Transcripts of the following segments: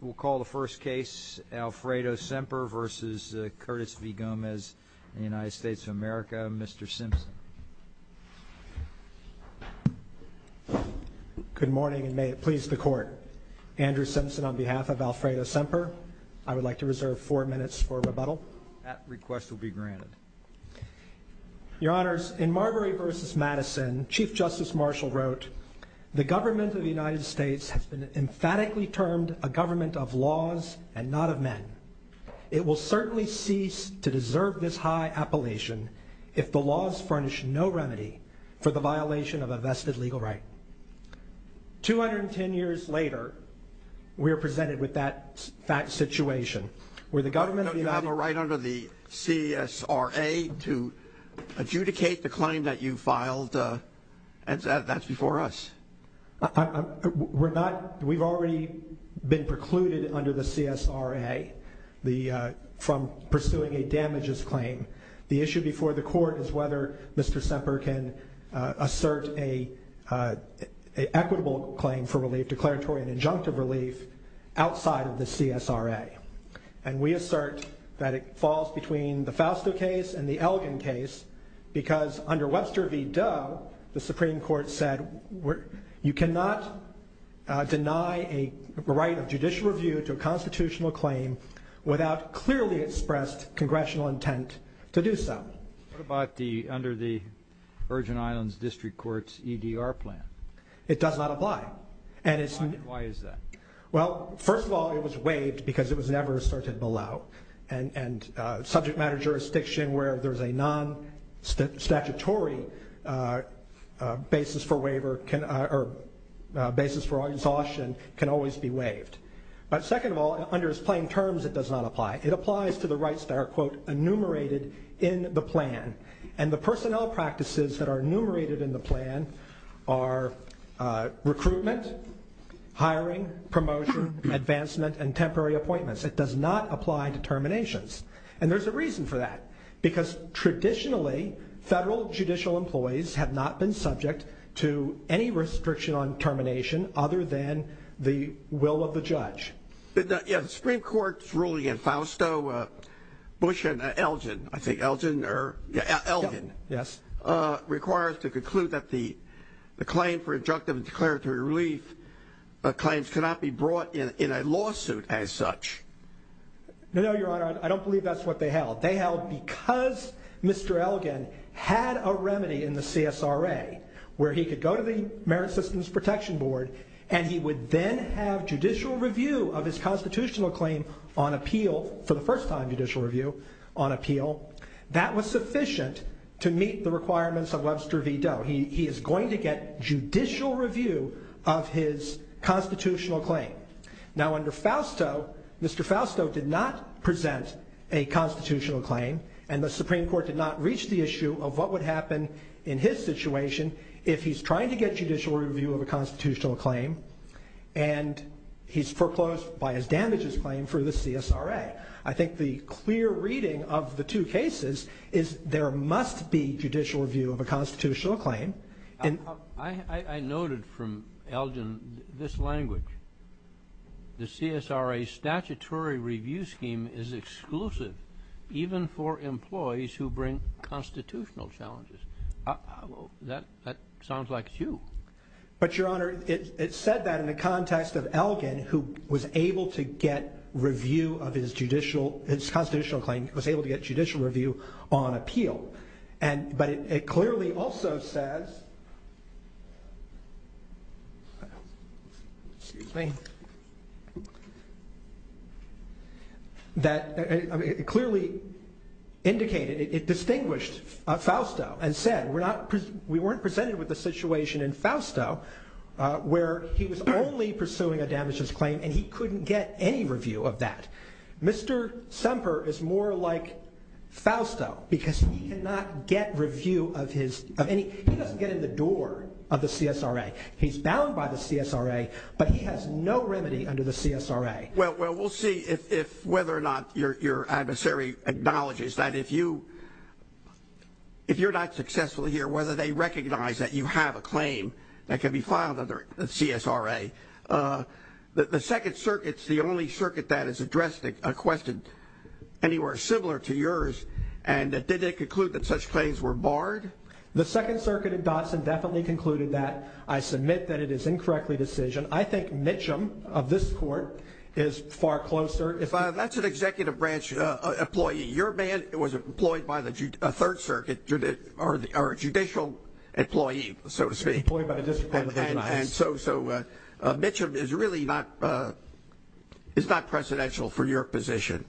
We'll call the first case, Alfredo Semper versus Curtis V. Gomez in the United States of America. Mr. Simpson. Good morning and may it please the court. Andrew Simpson on behalf of Alfredo Semper. I would like to reserve four minutes for rebuttal. Your honors, in Marbury versus Madison, Chief Justice Marshall wrote, The government of the United States has been emphatically termed a government of laws and not of men. It will certainly cease to deserve this high appellation if the laws furnish no remedy for the violation of a vested legal right. 210 years later, we are presented with that situation. Don't you have a right under the CSRA to adjudicate the claim that you filed that's before us? We've already been precluded under the CSRA from pursuing a damages claim. The issue before the court is whether Mr. Semper can assert an equitable claim for relief, declaratory and injunctive relief, outside of the CSRA. And we assert that it falls between the Fausto case and the Elgin case because under Webster v. Doe, the Supreme Court said, you cannot deny a right of judicial review to a constitutional claim without clearly expressed congressional intent to do so. What about under the Virgin Islands District Court's EDR plan? It does not apply. Why is that? Well, first of all, it was waived because it was never asserted below. And subject matter jurisdiction where there's a non-statutory basis for waiver or basis for exhaustion can always be waived. But second of all, under its plain terms, it does not apply. It applies to the rights that are, quote, enumerated in the plan. And the personnel practices that are enumerated in the plan are recruitment, hiring, promotion, advancement and temporary appointments. It does not apply to terminations. And there's a reason for that. Because traditionally, federal judicial employees have not been subject to any restriction on termination other than the will of the judge. Yeah, the Supreme Court's ruling in Fausto Bush and Elgin, I think Elgin or Elgin. Yes. Requires to conclude that the claim for injunctive and declaratory relief claims cannot be brought in a lawsuit as such. No, no, Your Honor. I don't believe that's what they held. They held because Mr. Elgin had a remedy in the CSRA where he could go to the Merit Systems Protection Board and he would then have judicial review of his constitutional claim on appeal, for the first time judicial review, on appeal. That was sufficient to meet the requirements of Webster v. Doe. He is going to get judicial review of his constitutional claim. Now, under Fausto, Mr. Fausto did not present a constitutional claim and the Supreme Court did not reach the issue of what would happen in his situation if he's trying to get judicial review of a constitutional claim and he's foreclosed by his damages claim for the CSRA. I think the clear reading of the two cases is there must be judicial review of a constitutional claim. I noted from Elgin this language. The CSRA statutory review scheme is exclusive even for employees who bring constitutional challenges. That sounds like you. But, Your Honor, it said that in the context of Elgin who was able to get review of his judicial, his constitutional claim, was able to get judicial review on appeal. But it clearly also says, it clearly indicated, it distinguished Fausto and said we weren't presented with a situation in Fausto where he was only pursuing a damages claim and he couldn't get any review of that. Mr. Semper is more like Fausto because he cannot get review of his, of any, he doesn't get in the door of the CSRA. He's bound by the CSRA, but he has no remedy under the CSRA. Well, we'll see if whether or not your adversary acknowledges that if you're not successful here, whether they recognize that you have a claim that can be filed under the CSRA. The Second Circuit's the only circuit that has addressed a question anywhere similar to yours. And did they conclude that such claims were barred? The Second Circuit in Dotson definitely concluded that. I submit that it is incorrectly decision. I think Mitchum of this court is far closer. That's an executive branch employee. Your man was employed by the Third Circuit, or a judicial employee, so to speak. And so Mitchum is really not, is not precedential for your position.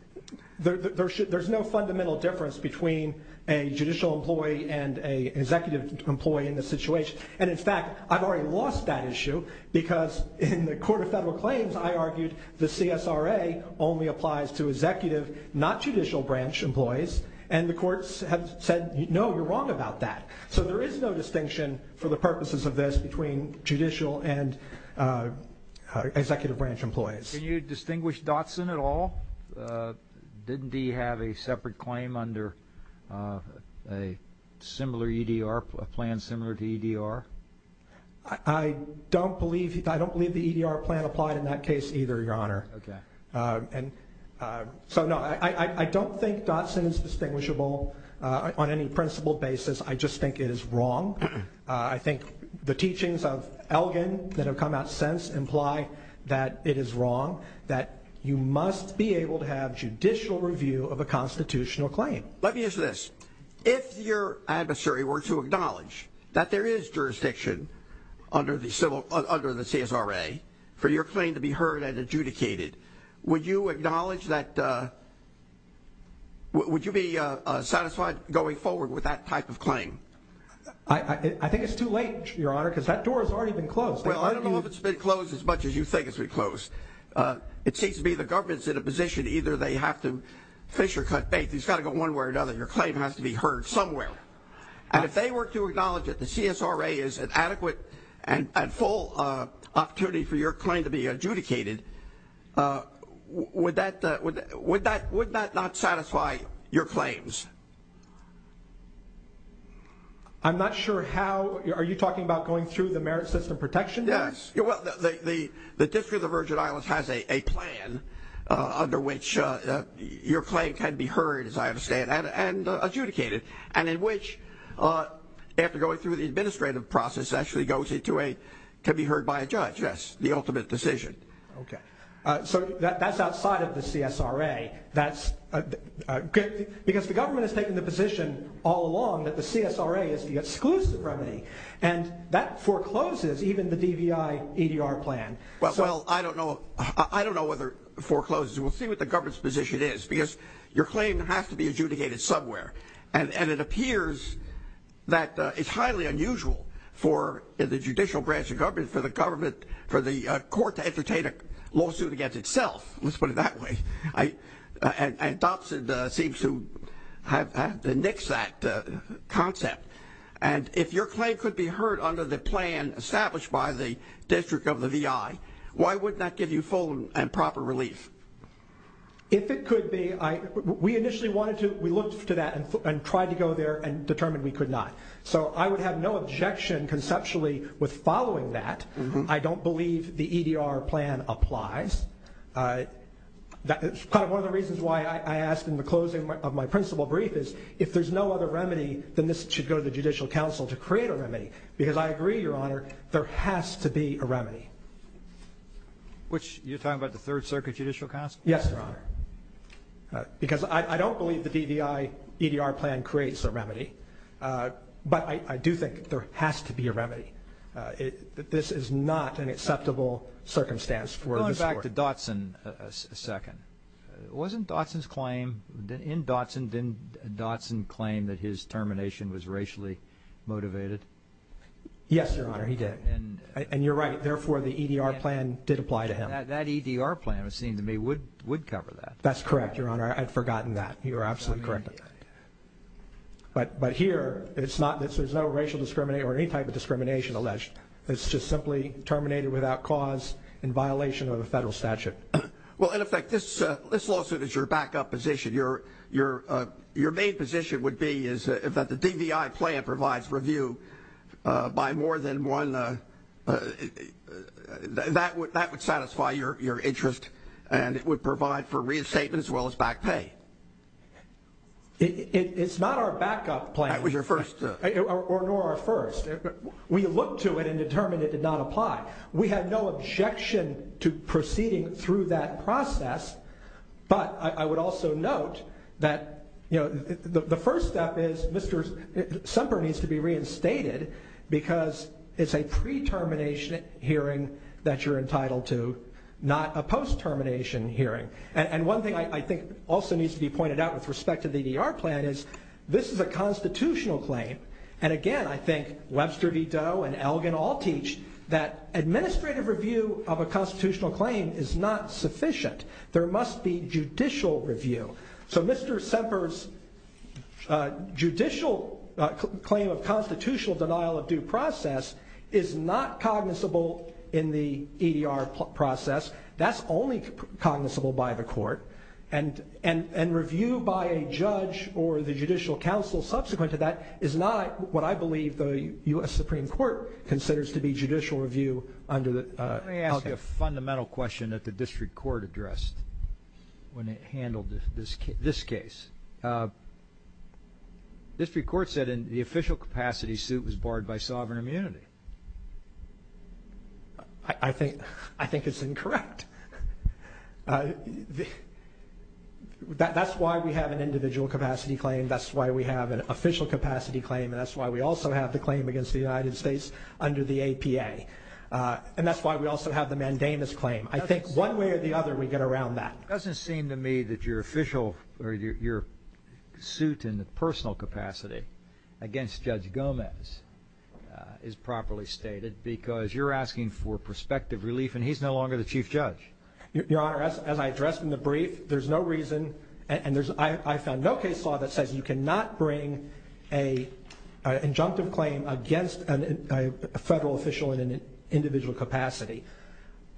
There's no fundamental difference between a judicial employee and an executive employee in this situation. And in fact, I've already lost that issue because in the Court of Federal Claims, I argued the CSRA only applies to executive, not judicial branch employees. And the courts have said, no, you're wrong about that. So there is no distinction for the purposes of this between judicial and executive branch employees. Can you distinguish Dotson at all? Didn't he have a separate claim under a similar EDR, a plan similar to EDR? I don't believe the EDR plan applied in that case either, Your Honor. Okay. So, no, I don't think Dotson is distinguishable on any principled basis. I just think it is wrong. I think the teachings of Elgin that have come out since imply that it is wrong, that you must be able to have judicial review of a constitutional claim. Let me ask you this. If your adversary were to acknowledge that there is jurisdiction under the CSRA for your claim to be heard and adjudicated, would you acknowledge that, would you be satisfied going forward with that type of claim? I think it's too late, Your Honor, because that door has already been closed. Well, I don't know if it's been closed as much as you think it's been closed. It seems to me the government's in a position either they have to fish or cut bait. It's got to go one way or another. Your claim has to be heard somewhere. And if they were to acknowledge that the CSRA is an adequate and full opportunity for your claim to be adjudicated, would that not satisfy your claims? I'm not sure how. Are you talking about going through the Merit System Protection Act? Yes. The District of the Virgin Islands has a plan under which your claim can be heard, as I understand, and adjudicated, and in which, after going through the administrative process, it actually goes to be heard by a judge. Yes, the ultimate decision. Okay. So that's outside of the CSRA. Because the government has taken the position all along that the CSRA is the exclusive remedy. And that forecloses even the DVI-EDR plan. Well, I don't know whether it forecloses. We'll see what the government's position is. Because your claim has to be adjudicated somewhere. And it appears that it's highly unusual for the judicial branch of government, for the court to entertain a lawsuit against itself. Let's put it that way. And Dobson seems to have to nix that concept. And if your claim could be heard under the plan established by the District of the VI, why would that give you full and proper relief? If it could be, we initially wanted to, we looked to that and tried to go there and determined we could not. So I would have no objection conceptually with following that. I don't believe the EDR plan applies. One of the reasons why I asked in the closing of my principal brief is if there's no other remedy, then this should go to the Judicial Council to create a remedy. Because I agree, Your Honor, there has to be a remedy. Which you're talking about the Third Circuit Judicial Council? Yes, Your Honor. Because I don't believe the DVI-EDR plan creates a remedy. But I do think there has to be a remedy. This is not an acceptable circumstance for this court. Let's go back to Dotson a second. Wasn't Dotson's claim, in Dotson, didn't Dotson claim that his termination was racially motivated? Yes, Your Honor, he did. And you're right. Therefore, the EDR plan did apply to him. That EDR plan, it seemed to me, would cover that. That's correct, Your Honor. I had forgotten that. You are absolutely correct. But here, there's no racial discrimination or any type of discrimination alleged. It's just simply terminated without cause in violation of the federal statute. Well, in effect, this lawsuit is your backup position. Your main position would be that if the DVI plan provides review by more than one, that would satisfy your interest. And it would provide for reinstatement as well as back pay. It's not our backup plan. That was your first. Nor our first. We looked to it and determined it did not apply. We had no objection to proceeding through that process. But I would also note that, you know, the first step is Mr. Semper needs to be reinstated because it's a pre-termination hearing that you're entitled to, not a post-termination hearing. And one thing I think also needs to be pointed out with respect to the EDR plan is this is a constitutional claim. And, again, I think Webster V. Doe and Elgin all teach that administrative review of a constitutional claim is not sufficient. There must be judicial review. So Mr. Semper's judicial claim of constitutional denial of due process is not cognizable in the EDR process. That's only cognizable by the court. And review by a judge or the judicial counsel subsequent to that is not what I believe the U.S. Supreme Court considers to be judicial review. Let me ask you a fundamental question that the district court addressed when it handled this case. The district court said in the official capacity suit was barred by sovereign immunity. I think it's incorrect. That's why we have an individual capacity claim. That's why we have an official capacity claim. And that's why we also have the claim against the United States under the APA. And that's why we also have the mandamus claim. I think one way or the other we get around that. It doesn't seem to me that your official or your suit in the personal capacity against Judge Gomez is properly stated because you're asking for prospective relief and he's no longer the chief judge. Your Honor, as I addressed in the brief, there's no reason and I found no case law that says you cannot bring an injunctive claim against a federal official in an individual capacity.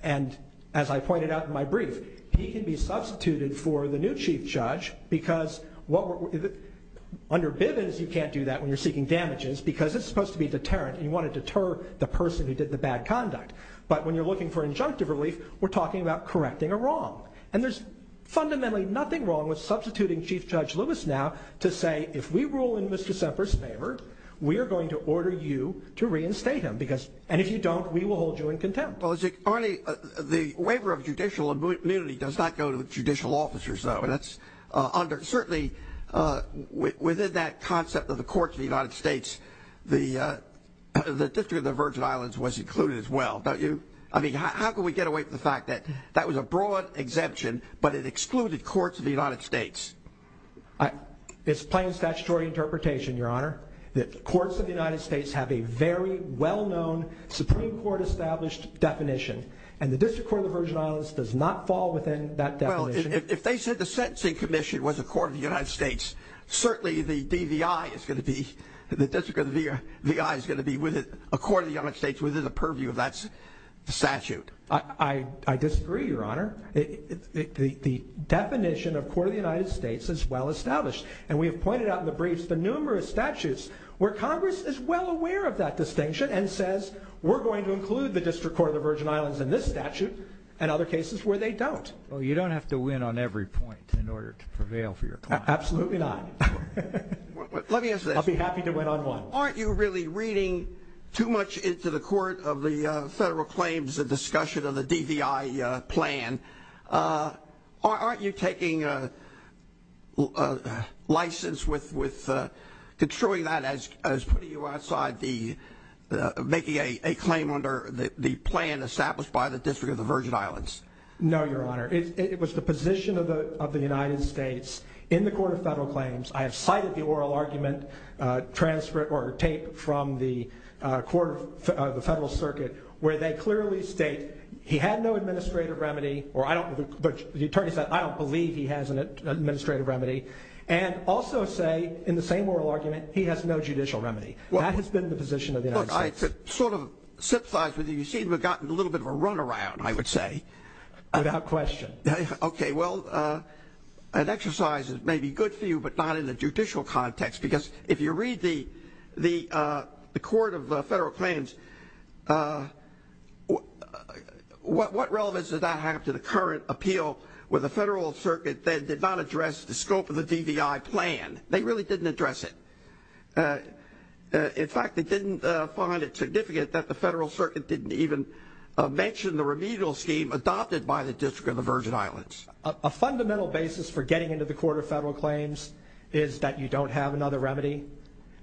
And as I pointed out in my brief, he can be substituted for the new chief judge because under Bivens you can't do that when you're seeking damages because it's supposed to be deterrent and you want to deter the person who did the bad conduct. But when you're looking for injunctive relief, we're talking about correcting a wrong. And there's fundamentally nothing wrong with substituting Chief Judge Lewis now to say if we rule in Mr. Semper's favor, we are going to order you to reinstate him. And if you don't, we will hold you in contempt. Well, the waiver of judicial immunity does not go to judicial officers, though. Certainly within that concept of the courts of the United States, the District of the Virgin Islands was included as well, don't you? I mean, how can we get away from the fact that that was a broad exemption but it excluded courts of the United States? It's plain statutory interpretation, Your Honor, that courts of the United States have a very well-known Supreme Court-established definition. And the District Court of the Virgin Islands does not fall within that definition. Well, if they said the Sentencing Commission was a court of the United States, certainly the DVI is going to be, the District of the VI is going to be a court of the United States within the purview of that statute. I disagree, Your Honor. The definition of court of the United States is well-established. And we have pointed out in the briefs the numerous statutes where Congress is well aware of that distinction and says we're going to include the District Court of the Virgin Islands in this statute and other cases where they don't. Well, you don't have to win on every point in order to prevail for your client. Absolutely not. Let me ask this. I'll be happy to win on one. Aren't you really reading too much into the court of the federal claims discussion of the DVI plan? Aren't you taking a license with controlling that as putting you outside the making a claim under the plan established by the District of the Virgin Islands? No, Your Honor. It was the position of the United States in the court of federal claims. I have cited the oral argument or tape from the court of the federal circuit where they clearly state he had no administrative remedy, but the attorney said I don't believe he has an administrative remedy, and also say in the same oral argument he has no judicial remedy. That has been the position of the United States. I sort of sympathize with you. You seem to have gotten a little bit of a runaround, I would say. Without question. Okay. Well, an exercise that may be good for you but not in the judicial context, because if you read the court of the federal claims, what relevance does that have to the current appeal where the federal circuit then did not address the scope of the DVI plan? They really didn't address it. In fact, they didn't find it significant that the federal circuit didn't even mention the remedial scheme adopted by the District of the Virgin Islands. A fundamental basis for getting into the court of federal claims is that you don't have another remedy,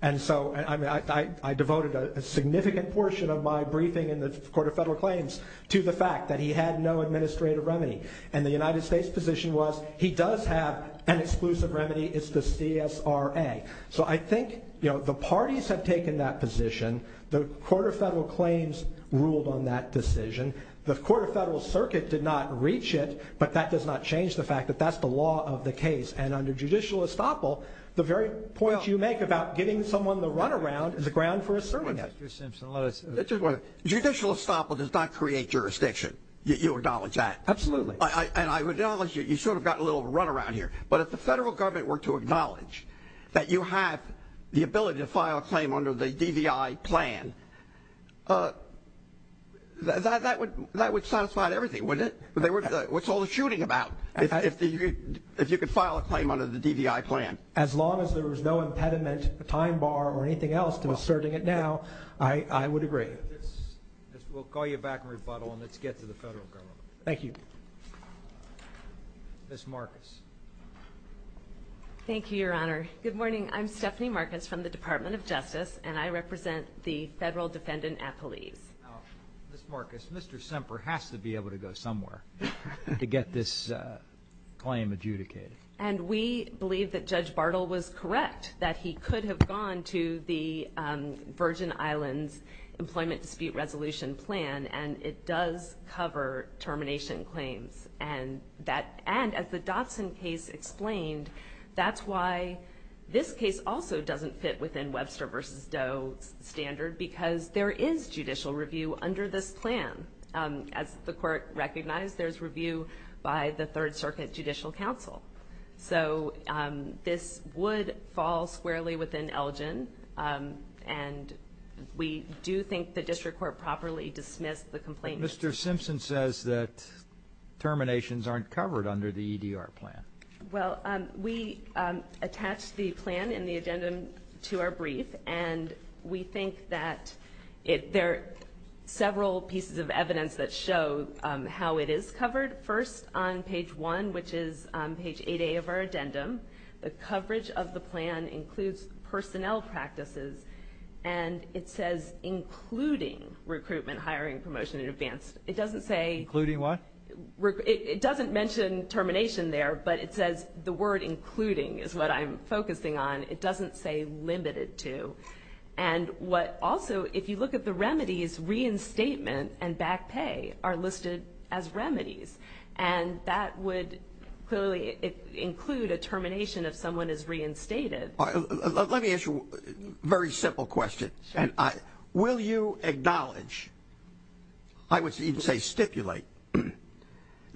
and so I devoted a significant portion of my briefing in the court of federal claims to the fact that he had no administrative remedy, and the United States' position was he does have an exclusive remedy. It's the CSRA. So I think the parties have taken that position. The court of federal claims ruled on that decision. The court of federal circuit did not reach it, but that does not change the fact that that's the law of the case, and under judicial estoppel, the very point you make about getting someone the runaround is the ground for asserting it. Justice Simpson, let us – Judicial estoppel does not create jurisdiction. You acknowledge that? Absolutely. And I acknowledge you sort of got a little runaround here, but if the federal government were to acknowledge that you have the ability to file a claim under the DVI plan, that would satisfy everything, wouldn't it? What's all the shooting about if you could file a claim under the DVI plan? As long as there was no impediment, a time bar, or anything else to asserting it now, I would agree. We'll call you back in rebuttal, and let's get to the federal government. Thank you. Ms. Marcus. Thank you, Your Honor. Good morning. I'm Stephanie Marcus from the Department of Justice, and I represent the federal defendant appellees. Now, Ms. Marcus, Mr. Semper has to be able to go somewhere to get this claim adjudicated. And we believe that Judge Bartle was correct, that he could have gone to the Virgin Islands Employment Dispute Resolution Plan, and it does cover termination claims. And as the Dotson case explained, that's why this case also doesn't fit within Webster v. Doe's standard, because there is judicial review under this plan. As the Court recognized, there's review by the Third Circuit Judicial Council. So this would fall squarely within Elgin, and we do think the district court properly dismissed the complaint. Mr. Simpson says that terminations aren't covered under the EDR plan. Well, we attached the plan in the addendum to our brief, and we think that there are several pieces of evidence that show how it is covered. First, on page 1, which is page 8A of our addendum, the coverage of the plan includes personnel practices, and it says including recruitment, hiring, promotion, and advanced. It doesn't say including what? It doesn't mention termination there, but it says the word including is what I'm focusing on. It doesn't say limited to. And what also, if you look at the remedies, reinstatement and back pay are listed as remedies, and that would clearly include a termination if someone is reinstated. Let me ask you a very simple question. Will you acknowledge, I would even say stipulate,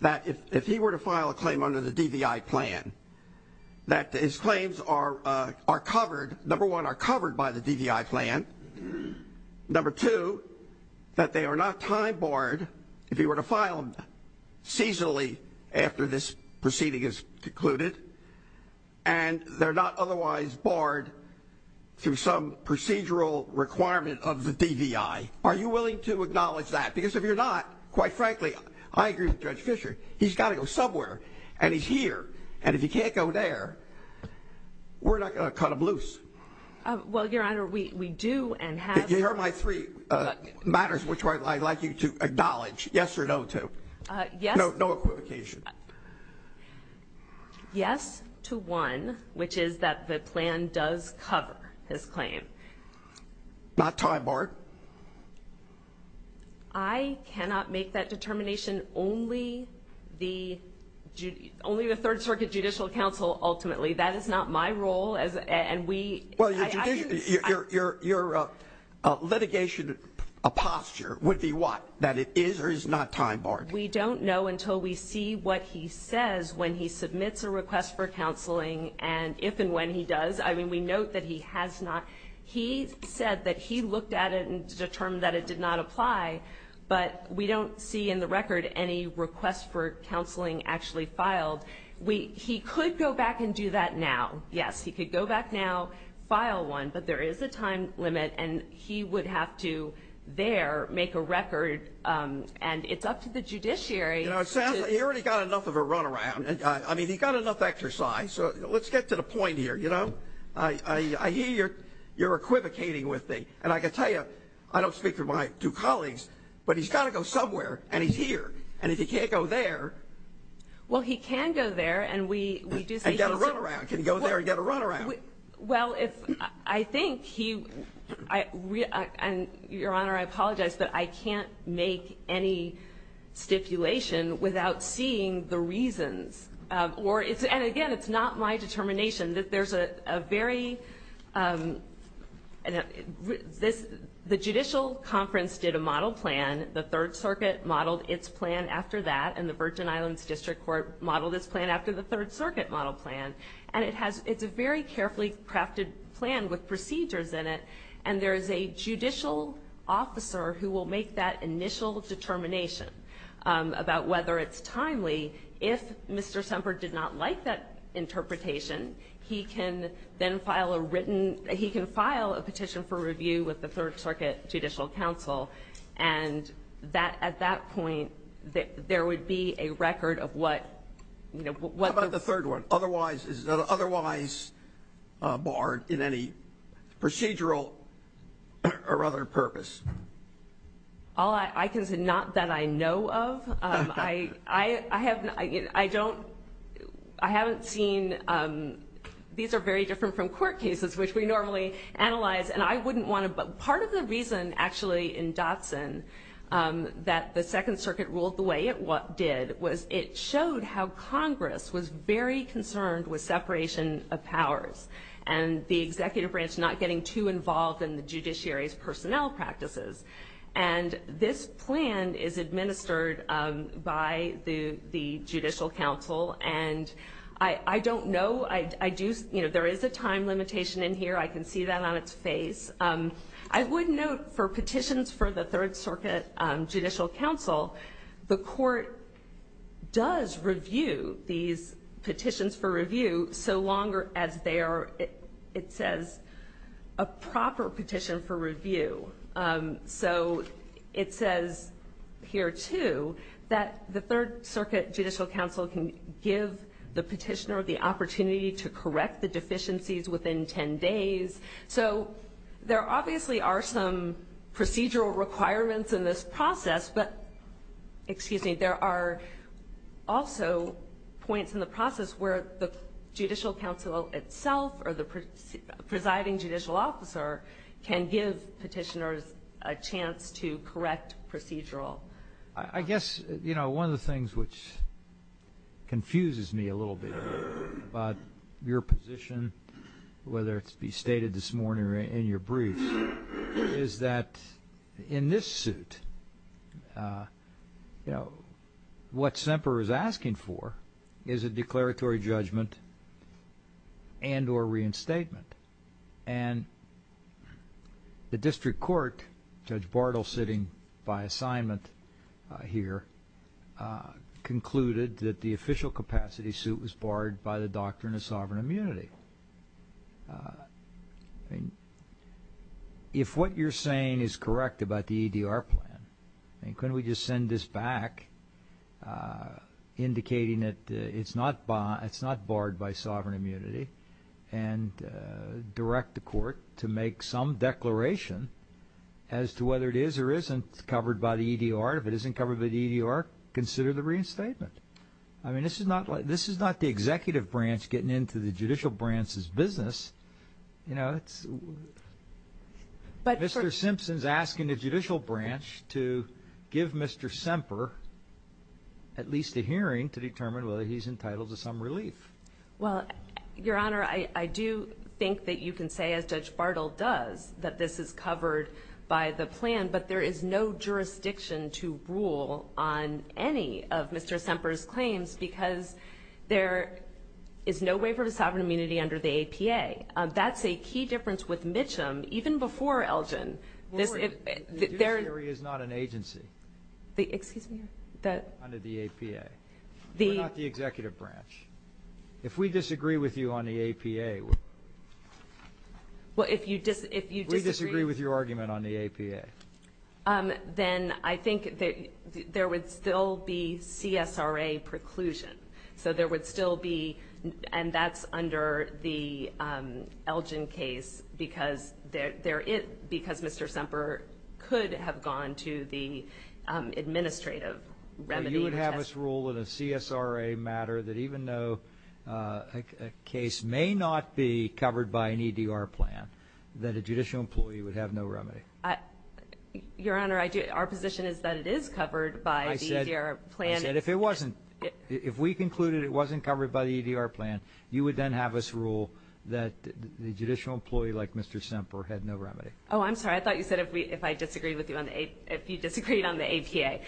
that if he were to file a claim under the DVI plan, that his claims are covered, number one, are covered by the DVI plan, number two, that they are not time barred if he were to file them seasonally after this proceeding is concluded, and they're not otherwise barred through some procedural requirement of the DVI? Are you willing to acknowledge that? Because if you're not, quite frankly, I agree with Judge Fischer, he's got to go somewhere, and he's here, and if he can't go there, we're not going to cut him loose. Well, Your Honor, we do and have. Here are my three matters which I'd like you to acknowledge, yes or no to. Yes. No equivocation. Yes to one, which is that the plan does cover his claim. Not time barred? I cannot make that determination. Only the Third Circuit Judicial Council, ultimately. That is not my role. Well, your litigation posture would be what? That it is or is not time barred? We don't know until we see what he says when he submits a request for counseling, and if and when he does. I mean, we note that he has not. He said that he looked at it and determined that it did not apply, but we don't see in the record any request for counseling actually filed. He could go back and do that now. Yes, he could go back now, file one, but there is a time limit, and he would have to there make a record, and it's up to the judiciary. You know, it sounds like he already got enough of a run around. I mean, he got enough exercise, so let's get to the point here, you know. I hear you're equivocating with me, and I can tell you, I don't speak for my two colleagues, but he's got to go somewhere, and he's here, and if he can't go there. Well, he can go there, and we do say he can't. And get a run around. Can he go there and get a run around? Well, I think he – and, Your Honor, I apologize, but I can't make any stipulation without seeing the reasons. And, again, it's not my determination. There's a very – the judicial conference did a model plan. The Third Circuit modeled its plan after that, and the Virgin Islands District Court modeled its plan after the Third Circuit model plan. And it's a very carefully crafted plan with procedures in it, and there is a judicial officer who will make that initial determination about whether it's timely. If Mr. Semper did not like that interpretation, he can then file a written – he can file a petition for review with the Third Circuit Judicial Council, and at that point there would be a record of what – How about the third one? Otherwise barred in any procedural or other purpose? I can say not that I know of. I haven't – I don't – I haven't seen – these are very different from court cases, which we normally analyze, and I wouldn't want to – Part of the reason, actually, in Dotson that the Second Circuit ruled the way it did was it showed how Congress was very concerned with separation of powers and the executive branch not getting too involved in the judiciary's personnel practices. And this plan is administered by the Judicial Council, and I don't know – I do – you know, there is a time limitation in here. I can see that on its face. I would note for petitions for the Third Circuit Judicial Council, the court does review these petitions for review so long as they are, it says, a proper petition for review. So it says here, too, that the Third Circuit Judicial Council can give the petitioner the opportunity to correct the deficiencies within 10 days. So there obviously are some procedural requirements in this process, but – excuse me – there are also points in the process where the Judicial Council itself or the presiding judicial officer can give petitioners a chance to correct procedural. Well, I guess, you know, one of the things which confuses me a little bit about your position, whether it be stated this morning or in your brief, is that in this suit, you know, what Semper is asking for is a declaratory judgment and or reinstatement. And the district court, Judge Bartle sitting by assignment here, concluded that the official capacity suit was barred by the doctrine of sovereign immunity. I mean, if what you're saying is correct about the EDR plan, I mean, couldn't we just send this back indicating that it's not barred by sovereign immunity and direct the court to make some declaration as to whether it is or isn't covered by the EDR? If it isn't covered by the EDR, consider the reinstatement. I mean, this is not the executive branch getting into the judicial branch's business. You know, Mr. Simpson's asking the judicial branch to give Mr. Semper at least a hearing to determine whether he's entitled to some relief. Well, Your Honor, I do think that you can say, as Judge Bartle does, that this is covered by the plan, but there is no jurisdiction to rule on any of Mr. Semper's claims because there is no waiver of sovereign immunity under the APA. That's a key difference with Mitcham, even before Elgin. The judiciary is not an agency under the APA. We're not the executive branch. If we disagree with you on the APA, we disagree with your argument on the APA. Then I think there would still be CSRA preclusion. So there would still be, and that's under the Elgin case because Mr. Semper could have gone to the administrative remedy. You would have us rule in a CSRA matter that even though a case may not be covered by an EDR plan, that a judicial employee would have no remedy. Your Honor, our position is that it is covered by the EDR plan. I said if it wasn't, if we concluded it wasn't covered by the EDR plan, you would then have us rule that the judicial employee like Mr. Semper had no remedy. Oh, I'm sorry. I thought you said if I disagreed with you on the APA. Okay.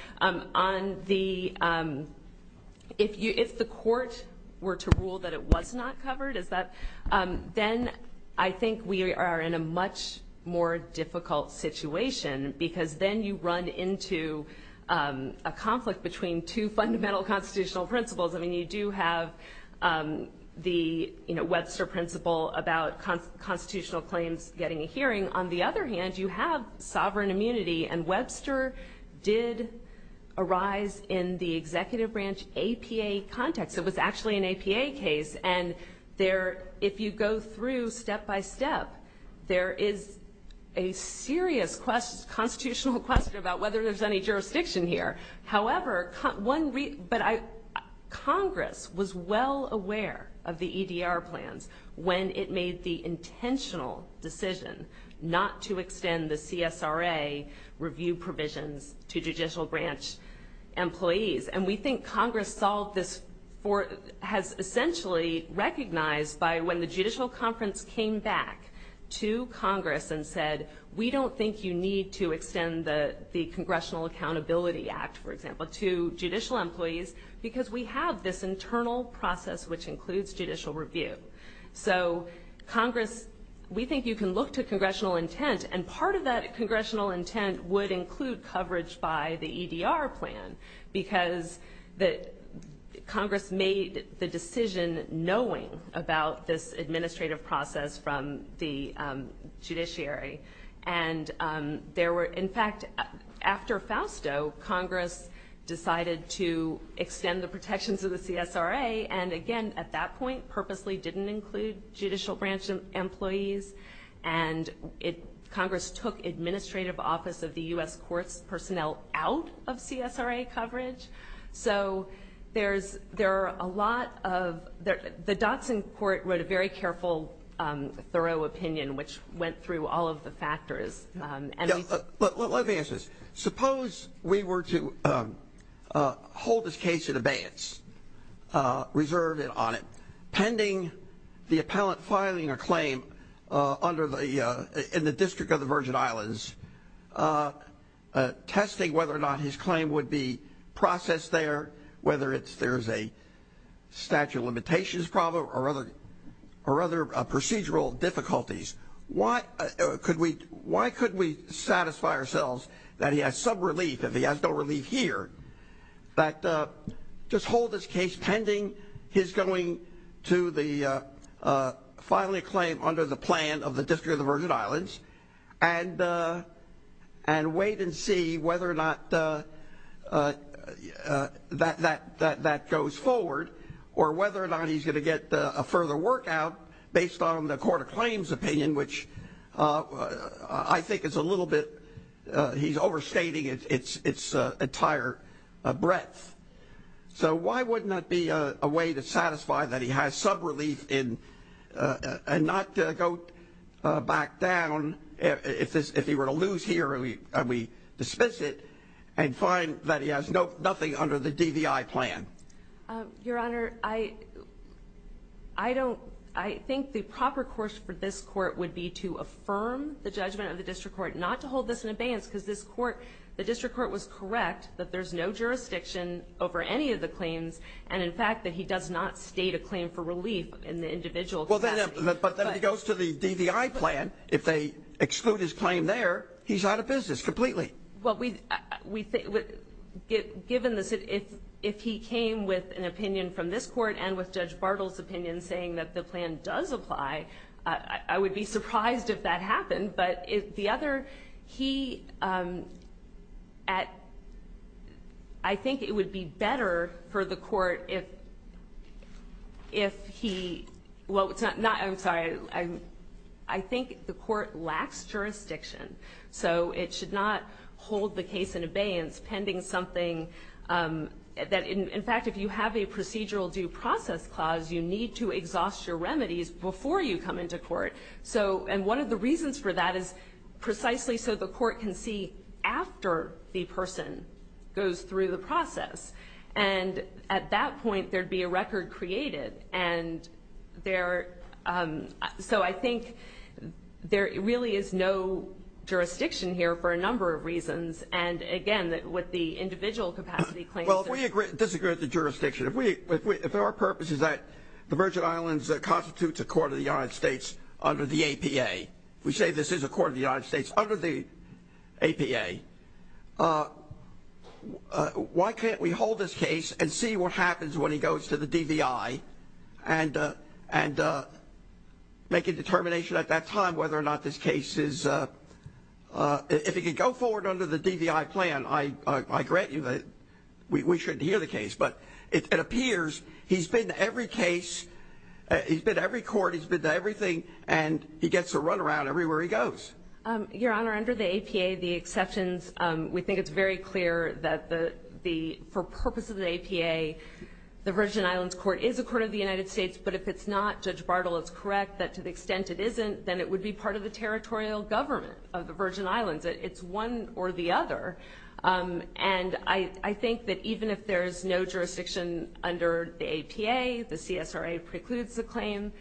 If the court were to rule that it was not covered, then I think we are in a much more difficult situation because then you run into a conflict between two fundamental constitutional principles. I mean, you do have the Webster principle about constitutional claims getting a hearing. On the other hand, you have sovereign immunity, and Webster did arise in the executive branch APA context. It was actually an APA case, and if you go through step by step, there is a serious constitutional question about whether there's any jurisdiction here. However, Congress was well aware of the EDR plans when it made the intentional decision not to extend the CSRA review provisions to judicial branch employees, and we think Congress has essentially recognized by when the judicial conference came back to Congress and said, we don't think you need to extend the Congressional Accountability Act, for example, to judicial employees because we have this internal process which includes judicial review. So Congress, we think you can look to congressional intent, and part of that congressional intent would include coverage by the EDR plan because Congress made the decision knowing about this administrative process from the judiciary, and there were, in fact, after Fausto, Congress decided to extend the protections of the CSRA, and again, at that point, purposely didn't include judicial branch employees, and Congress took administrative office of the U.S. Courts personnel out of CSRA coverage. So there are a lot of the dots in court wrote a very careful, thorough opinion which went through all of the factors. Let me ask this. Suppose we were to hold this case at abeyance, reserve it on it, pending the appellant filing a claim in the District of the Virgin Islands, testing whether or not his claim would be processed there, whether there's a statute of limitations problem or other procedural difficulties. Why could we satisfy ourselves that he has some relief if he has no relief here, that just hold this case pending his going to the filing claim under the plan of the District of the Virgin Islands and wait and see whether or not that goes forward or whether or not he's going to get a further work out based on the court of claims opinion, which I think is a little bit, he's overstating its entire breadth. So why wouldn't that be a way to satisfy that he has some relief and not go back down if he were to lose here and we dismiss it and find that he has nothing under the DVI plan? Your Honor, I think the proper course for this court would be to affirm the judgment of the district court, not to hold this in abeyance because the district court was correct that there's no jurisdiction over any of the claims and in fact that he does not state a claim for relief in the individual case. But then he goes to the DVI plan. If they exclude his claim there, he's out of business completely. Well, given this, if he came with an opinion from this court and with Judge Bartle's opinion saying that the plan does apply, I would be surprised if that happened. But the other, he at, I think it would be better for the court if he, well, it's not, I'm sorry, I think the court lacks jurisdiction. So it should not hold the case in abeyance pending something that, in fact, if you have a procedural due process clause, you need to exhaust your remedies before you come into court. And one of the reasons for that is precisely so the court can see after the person goes through the process. And at that point, there'd be a record created. And so I think there really is no jurisdiction here for a number of reasons. And, again, with the individual capacity claims. Well, if we disagree with the jurisdiction, if our purpose is that the Virgin Islands constitutes a court of the United States under the APA, we say this is a court of the United States under the APA, why can't we hold this case and see what happens when he goes to the DVI and make a determination at that time whether or not this case is, if he can go forward under the DVI plan, I grant you that we shouldn't hear the case. But it appears he's been to every case, he's been to every court, he's been to everything, and he gets to run around everywhere he goes. Your Honor, under the APA, the exceptions, we think it's very clear that for purpose of the APA, the Virgin Islands Court is a court of the United States. But if it's not, Judge Bartle is correct that to the extent it isn't, then it would be part of the territorial government of the Virgin Islands. It's one or the other. And I think that even if there's no jurisdiction under the APA, the CSRA precludes the claim.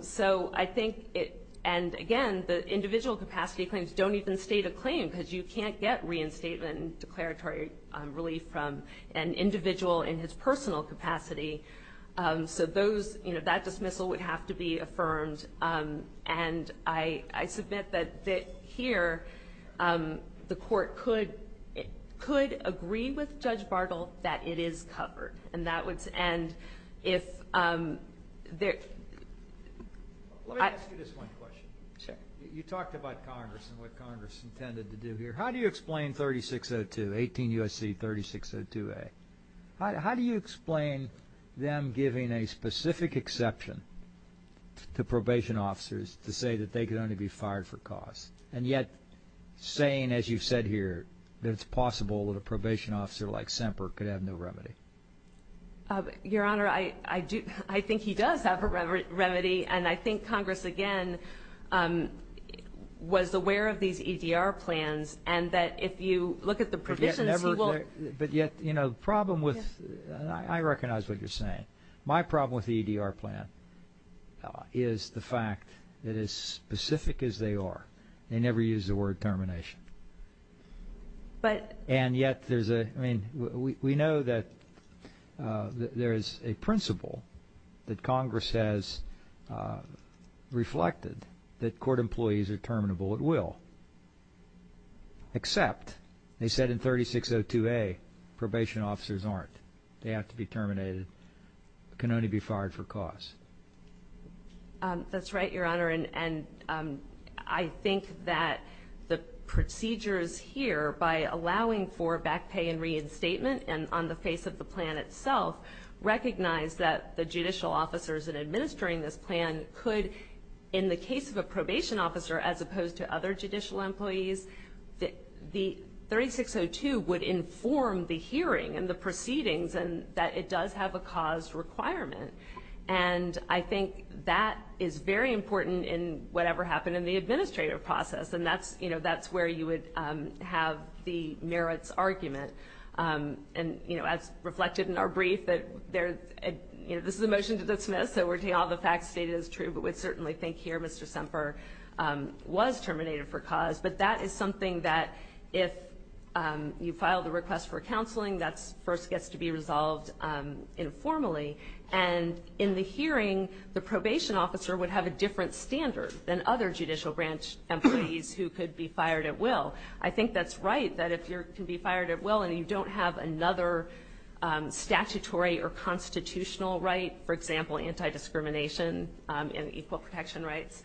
So I think, and again, the individual capacity claims don't even state a claim because you can't get reinstatement and declaratory relief from an individual in his personal capacity. So that dismissal would have to be affirmed. And I submit that here the court could agree with Judge Bartle that it is covered. Let me ask you this one question. Sure. You talked about Congress and what Congress intended to do here. How do you explain 3602, 18 U.S.C. 3602A? How do you explain them giving a specific exception to probation officers to say that they could only be fired for cause, and yet saying, as you've said here, that it's possible that a probation officer like Semper could have no remedy? Your Honor, I think he does have a remedy, and I think Congress, again, was aware of these EDR plans and that if you look at the provisions, he will – But yet the problem with – and I recognize what you're saying. My problem with the EDR plan is the fact that as specific as they are, they never use the word termination. But – And yet there's a – I mean, we know that there is a principle that Congress has reflected that court employees are terminable at will. Except, they said in 3602A, probation officers aren't. They have to be terminated. They can only be fired for cause. That's right, Your Honor, and I think that the procedures here, by allowing for back pay and reinstatement and on the face of the plan itself, recognize that the judicial officers in administering this plan could, in the case of a probation officer as opposed to other judicial employees, that the 3602 would inform the hearing and the proceedings and that it does have a cause requirement. And I think that is very important in whatever happened in the administrative process, and that's where you would have the merits argument. And as reflected in our brief, this is a motion to dismiss, so all the facts stated is true, but we certainly think here Mr. Semper was terminated for cause. But that is something that if you file the request for counseling, that first gets to be resolved informally. And in the hearing, the probation officer would have a different standard than other judicial branch employees who could be fired at will. I think that's right, that if you can be fired at will and you don't have another statutory or constitutional right, for example, anti-discrimination and equal protection rights,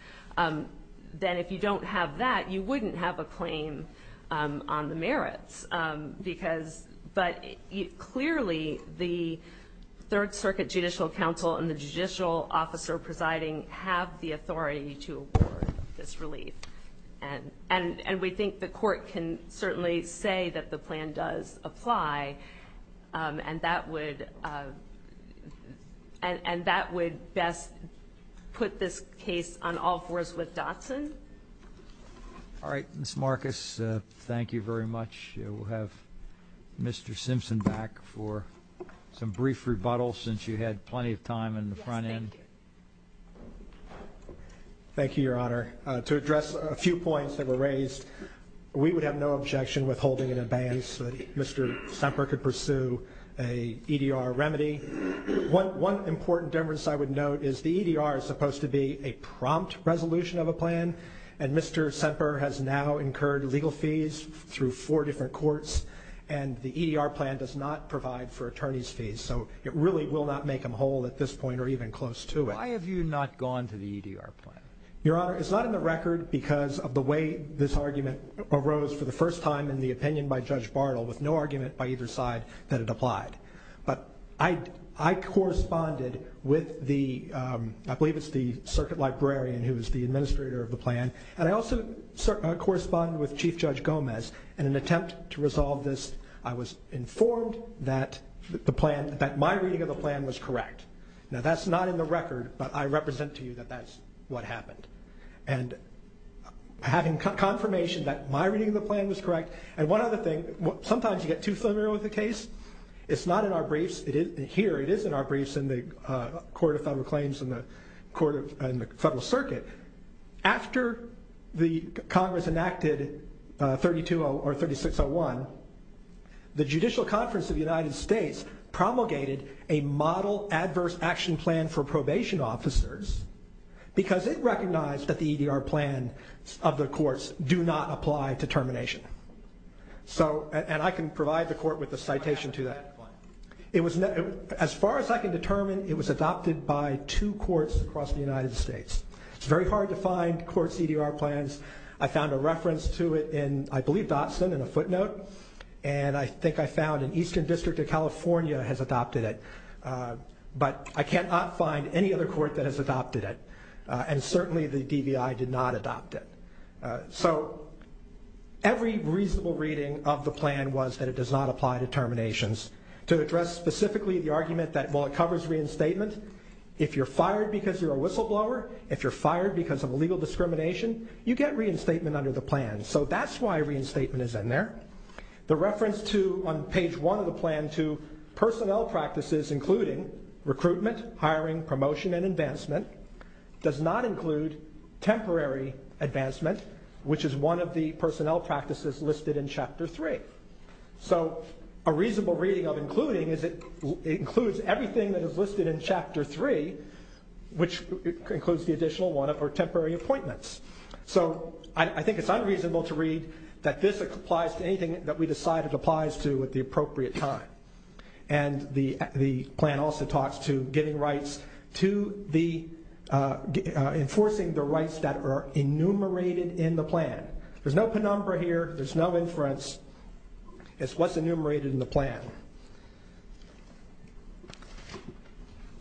then if you don't have that, you wouldn't have a claim on the merits. But clearly the Third Circuit Judicial Council and the judicial officer presiding have the authority to award this relief. And we think the court can certainly say that the plan does apply, and that would best put this case on all fours with Dotson. All right, Ms. Marcus, thank you very much. We'll have Mr. Simpson back for some brief rebuttal since you had plenty of time in the front end. Yes, thank you. Thank you, Your Honor. To address a few points that were raised, we would have no objection withholding it in advance so that Mr. Semper could pursue an EDR remedy. One important difference I would note is the EDR is supposed to be a prompt resolution of a plan, and Mr. Semper has now incurred legal fees through four different courts, and the EDR plan does not provide for attorney's fees. So it really will not make him whole at this point or even close to it. Why have you not gone to the EDR plan? Your Honor, it's not in the record because of the way this argument arose for the first time in the opinion by Judge Bartle, with no argument by either side that it applied. But I corresponded with the, I believe it's the circuit librarian who is the administrator of the plan, and I also corresponded with Chief Judge Gomez in an attempt to resolve this. I was informed that my reading of the plan was correct. Now that's not in the record, but I represent to you that that's what happened. And having confirmation that my reading of the plan was correct, and one other thing, sometimes you get too familiar with the case. It's not in our briefs. Here it is in our briefs in the Court of Federal Claims and the Federal Circuit. After the Congress enacted 320 or 3601, the Judicial Conference of the United States promulgated a model adverse action plan for probation officers because it recognized that the EDR plans of the courts do not apply to termination. And I can provide the court with a citation to that. As far as I can determine, it was adopted by two courts across the United States. It's very hard to find courts' EDR plans. I found a reference to it in, I believe, Dotson in a footnote, and I think I found an Eastern District of California has adopted it. But I cannot find any other court that has adopted it, and certainly the DVI did not adopt it. So every reasonable reading of the plan was that it does not apply to terminations. To address specifically the argument that while it covers reinstatement, if you're fired because you're a whistleblower, if you're fired because of illegal discrimination, you get reinstatement under the plan. So that's why reinstatement is in there. The reference to, on page 1 of the plan, to personnel practices including recruitment, hiring, promotion, and advancement does not include temporary advancement, which is one of the personnel practices listed in Chapter 3. So a reasonable reading of including is it includes everything that is listed in Chapter 3, which includes the additional one of our temporary appointments. So I think it's unreasonable to read that this applies to anything that we decide it applies to at the appropriate time. And the plan also talks to giving rights to the, enforcing the rights that are enumerated in the plan. There's no penumbra here. There's no inference. It's what's enumerated in the plan.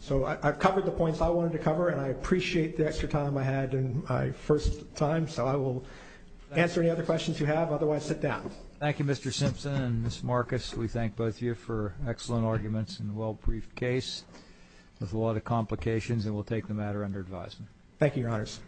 So I've covered the points I wanted to cover, and I appreciate the extra time I had in my first time, so I will answer any other questions you have. Otherwise, sit down. Thank you, Mr. Simpson and Ms. Marcus. We thank both of you for excellent arguments and a well-briefed case with a lot of complications, and we'll take the matter under advisement. Thank you, Your Honors.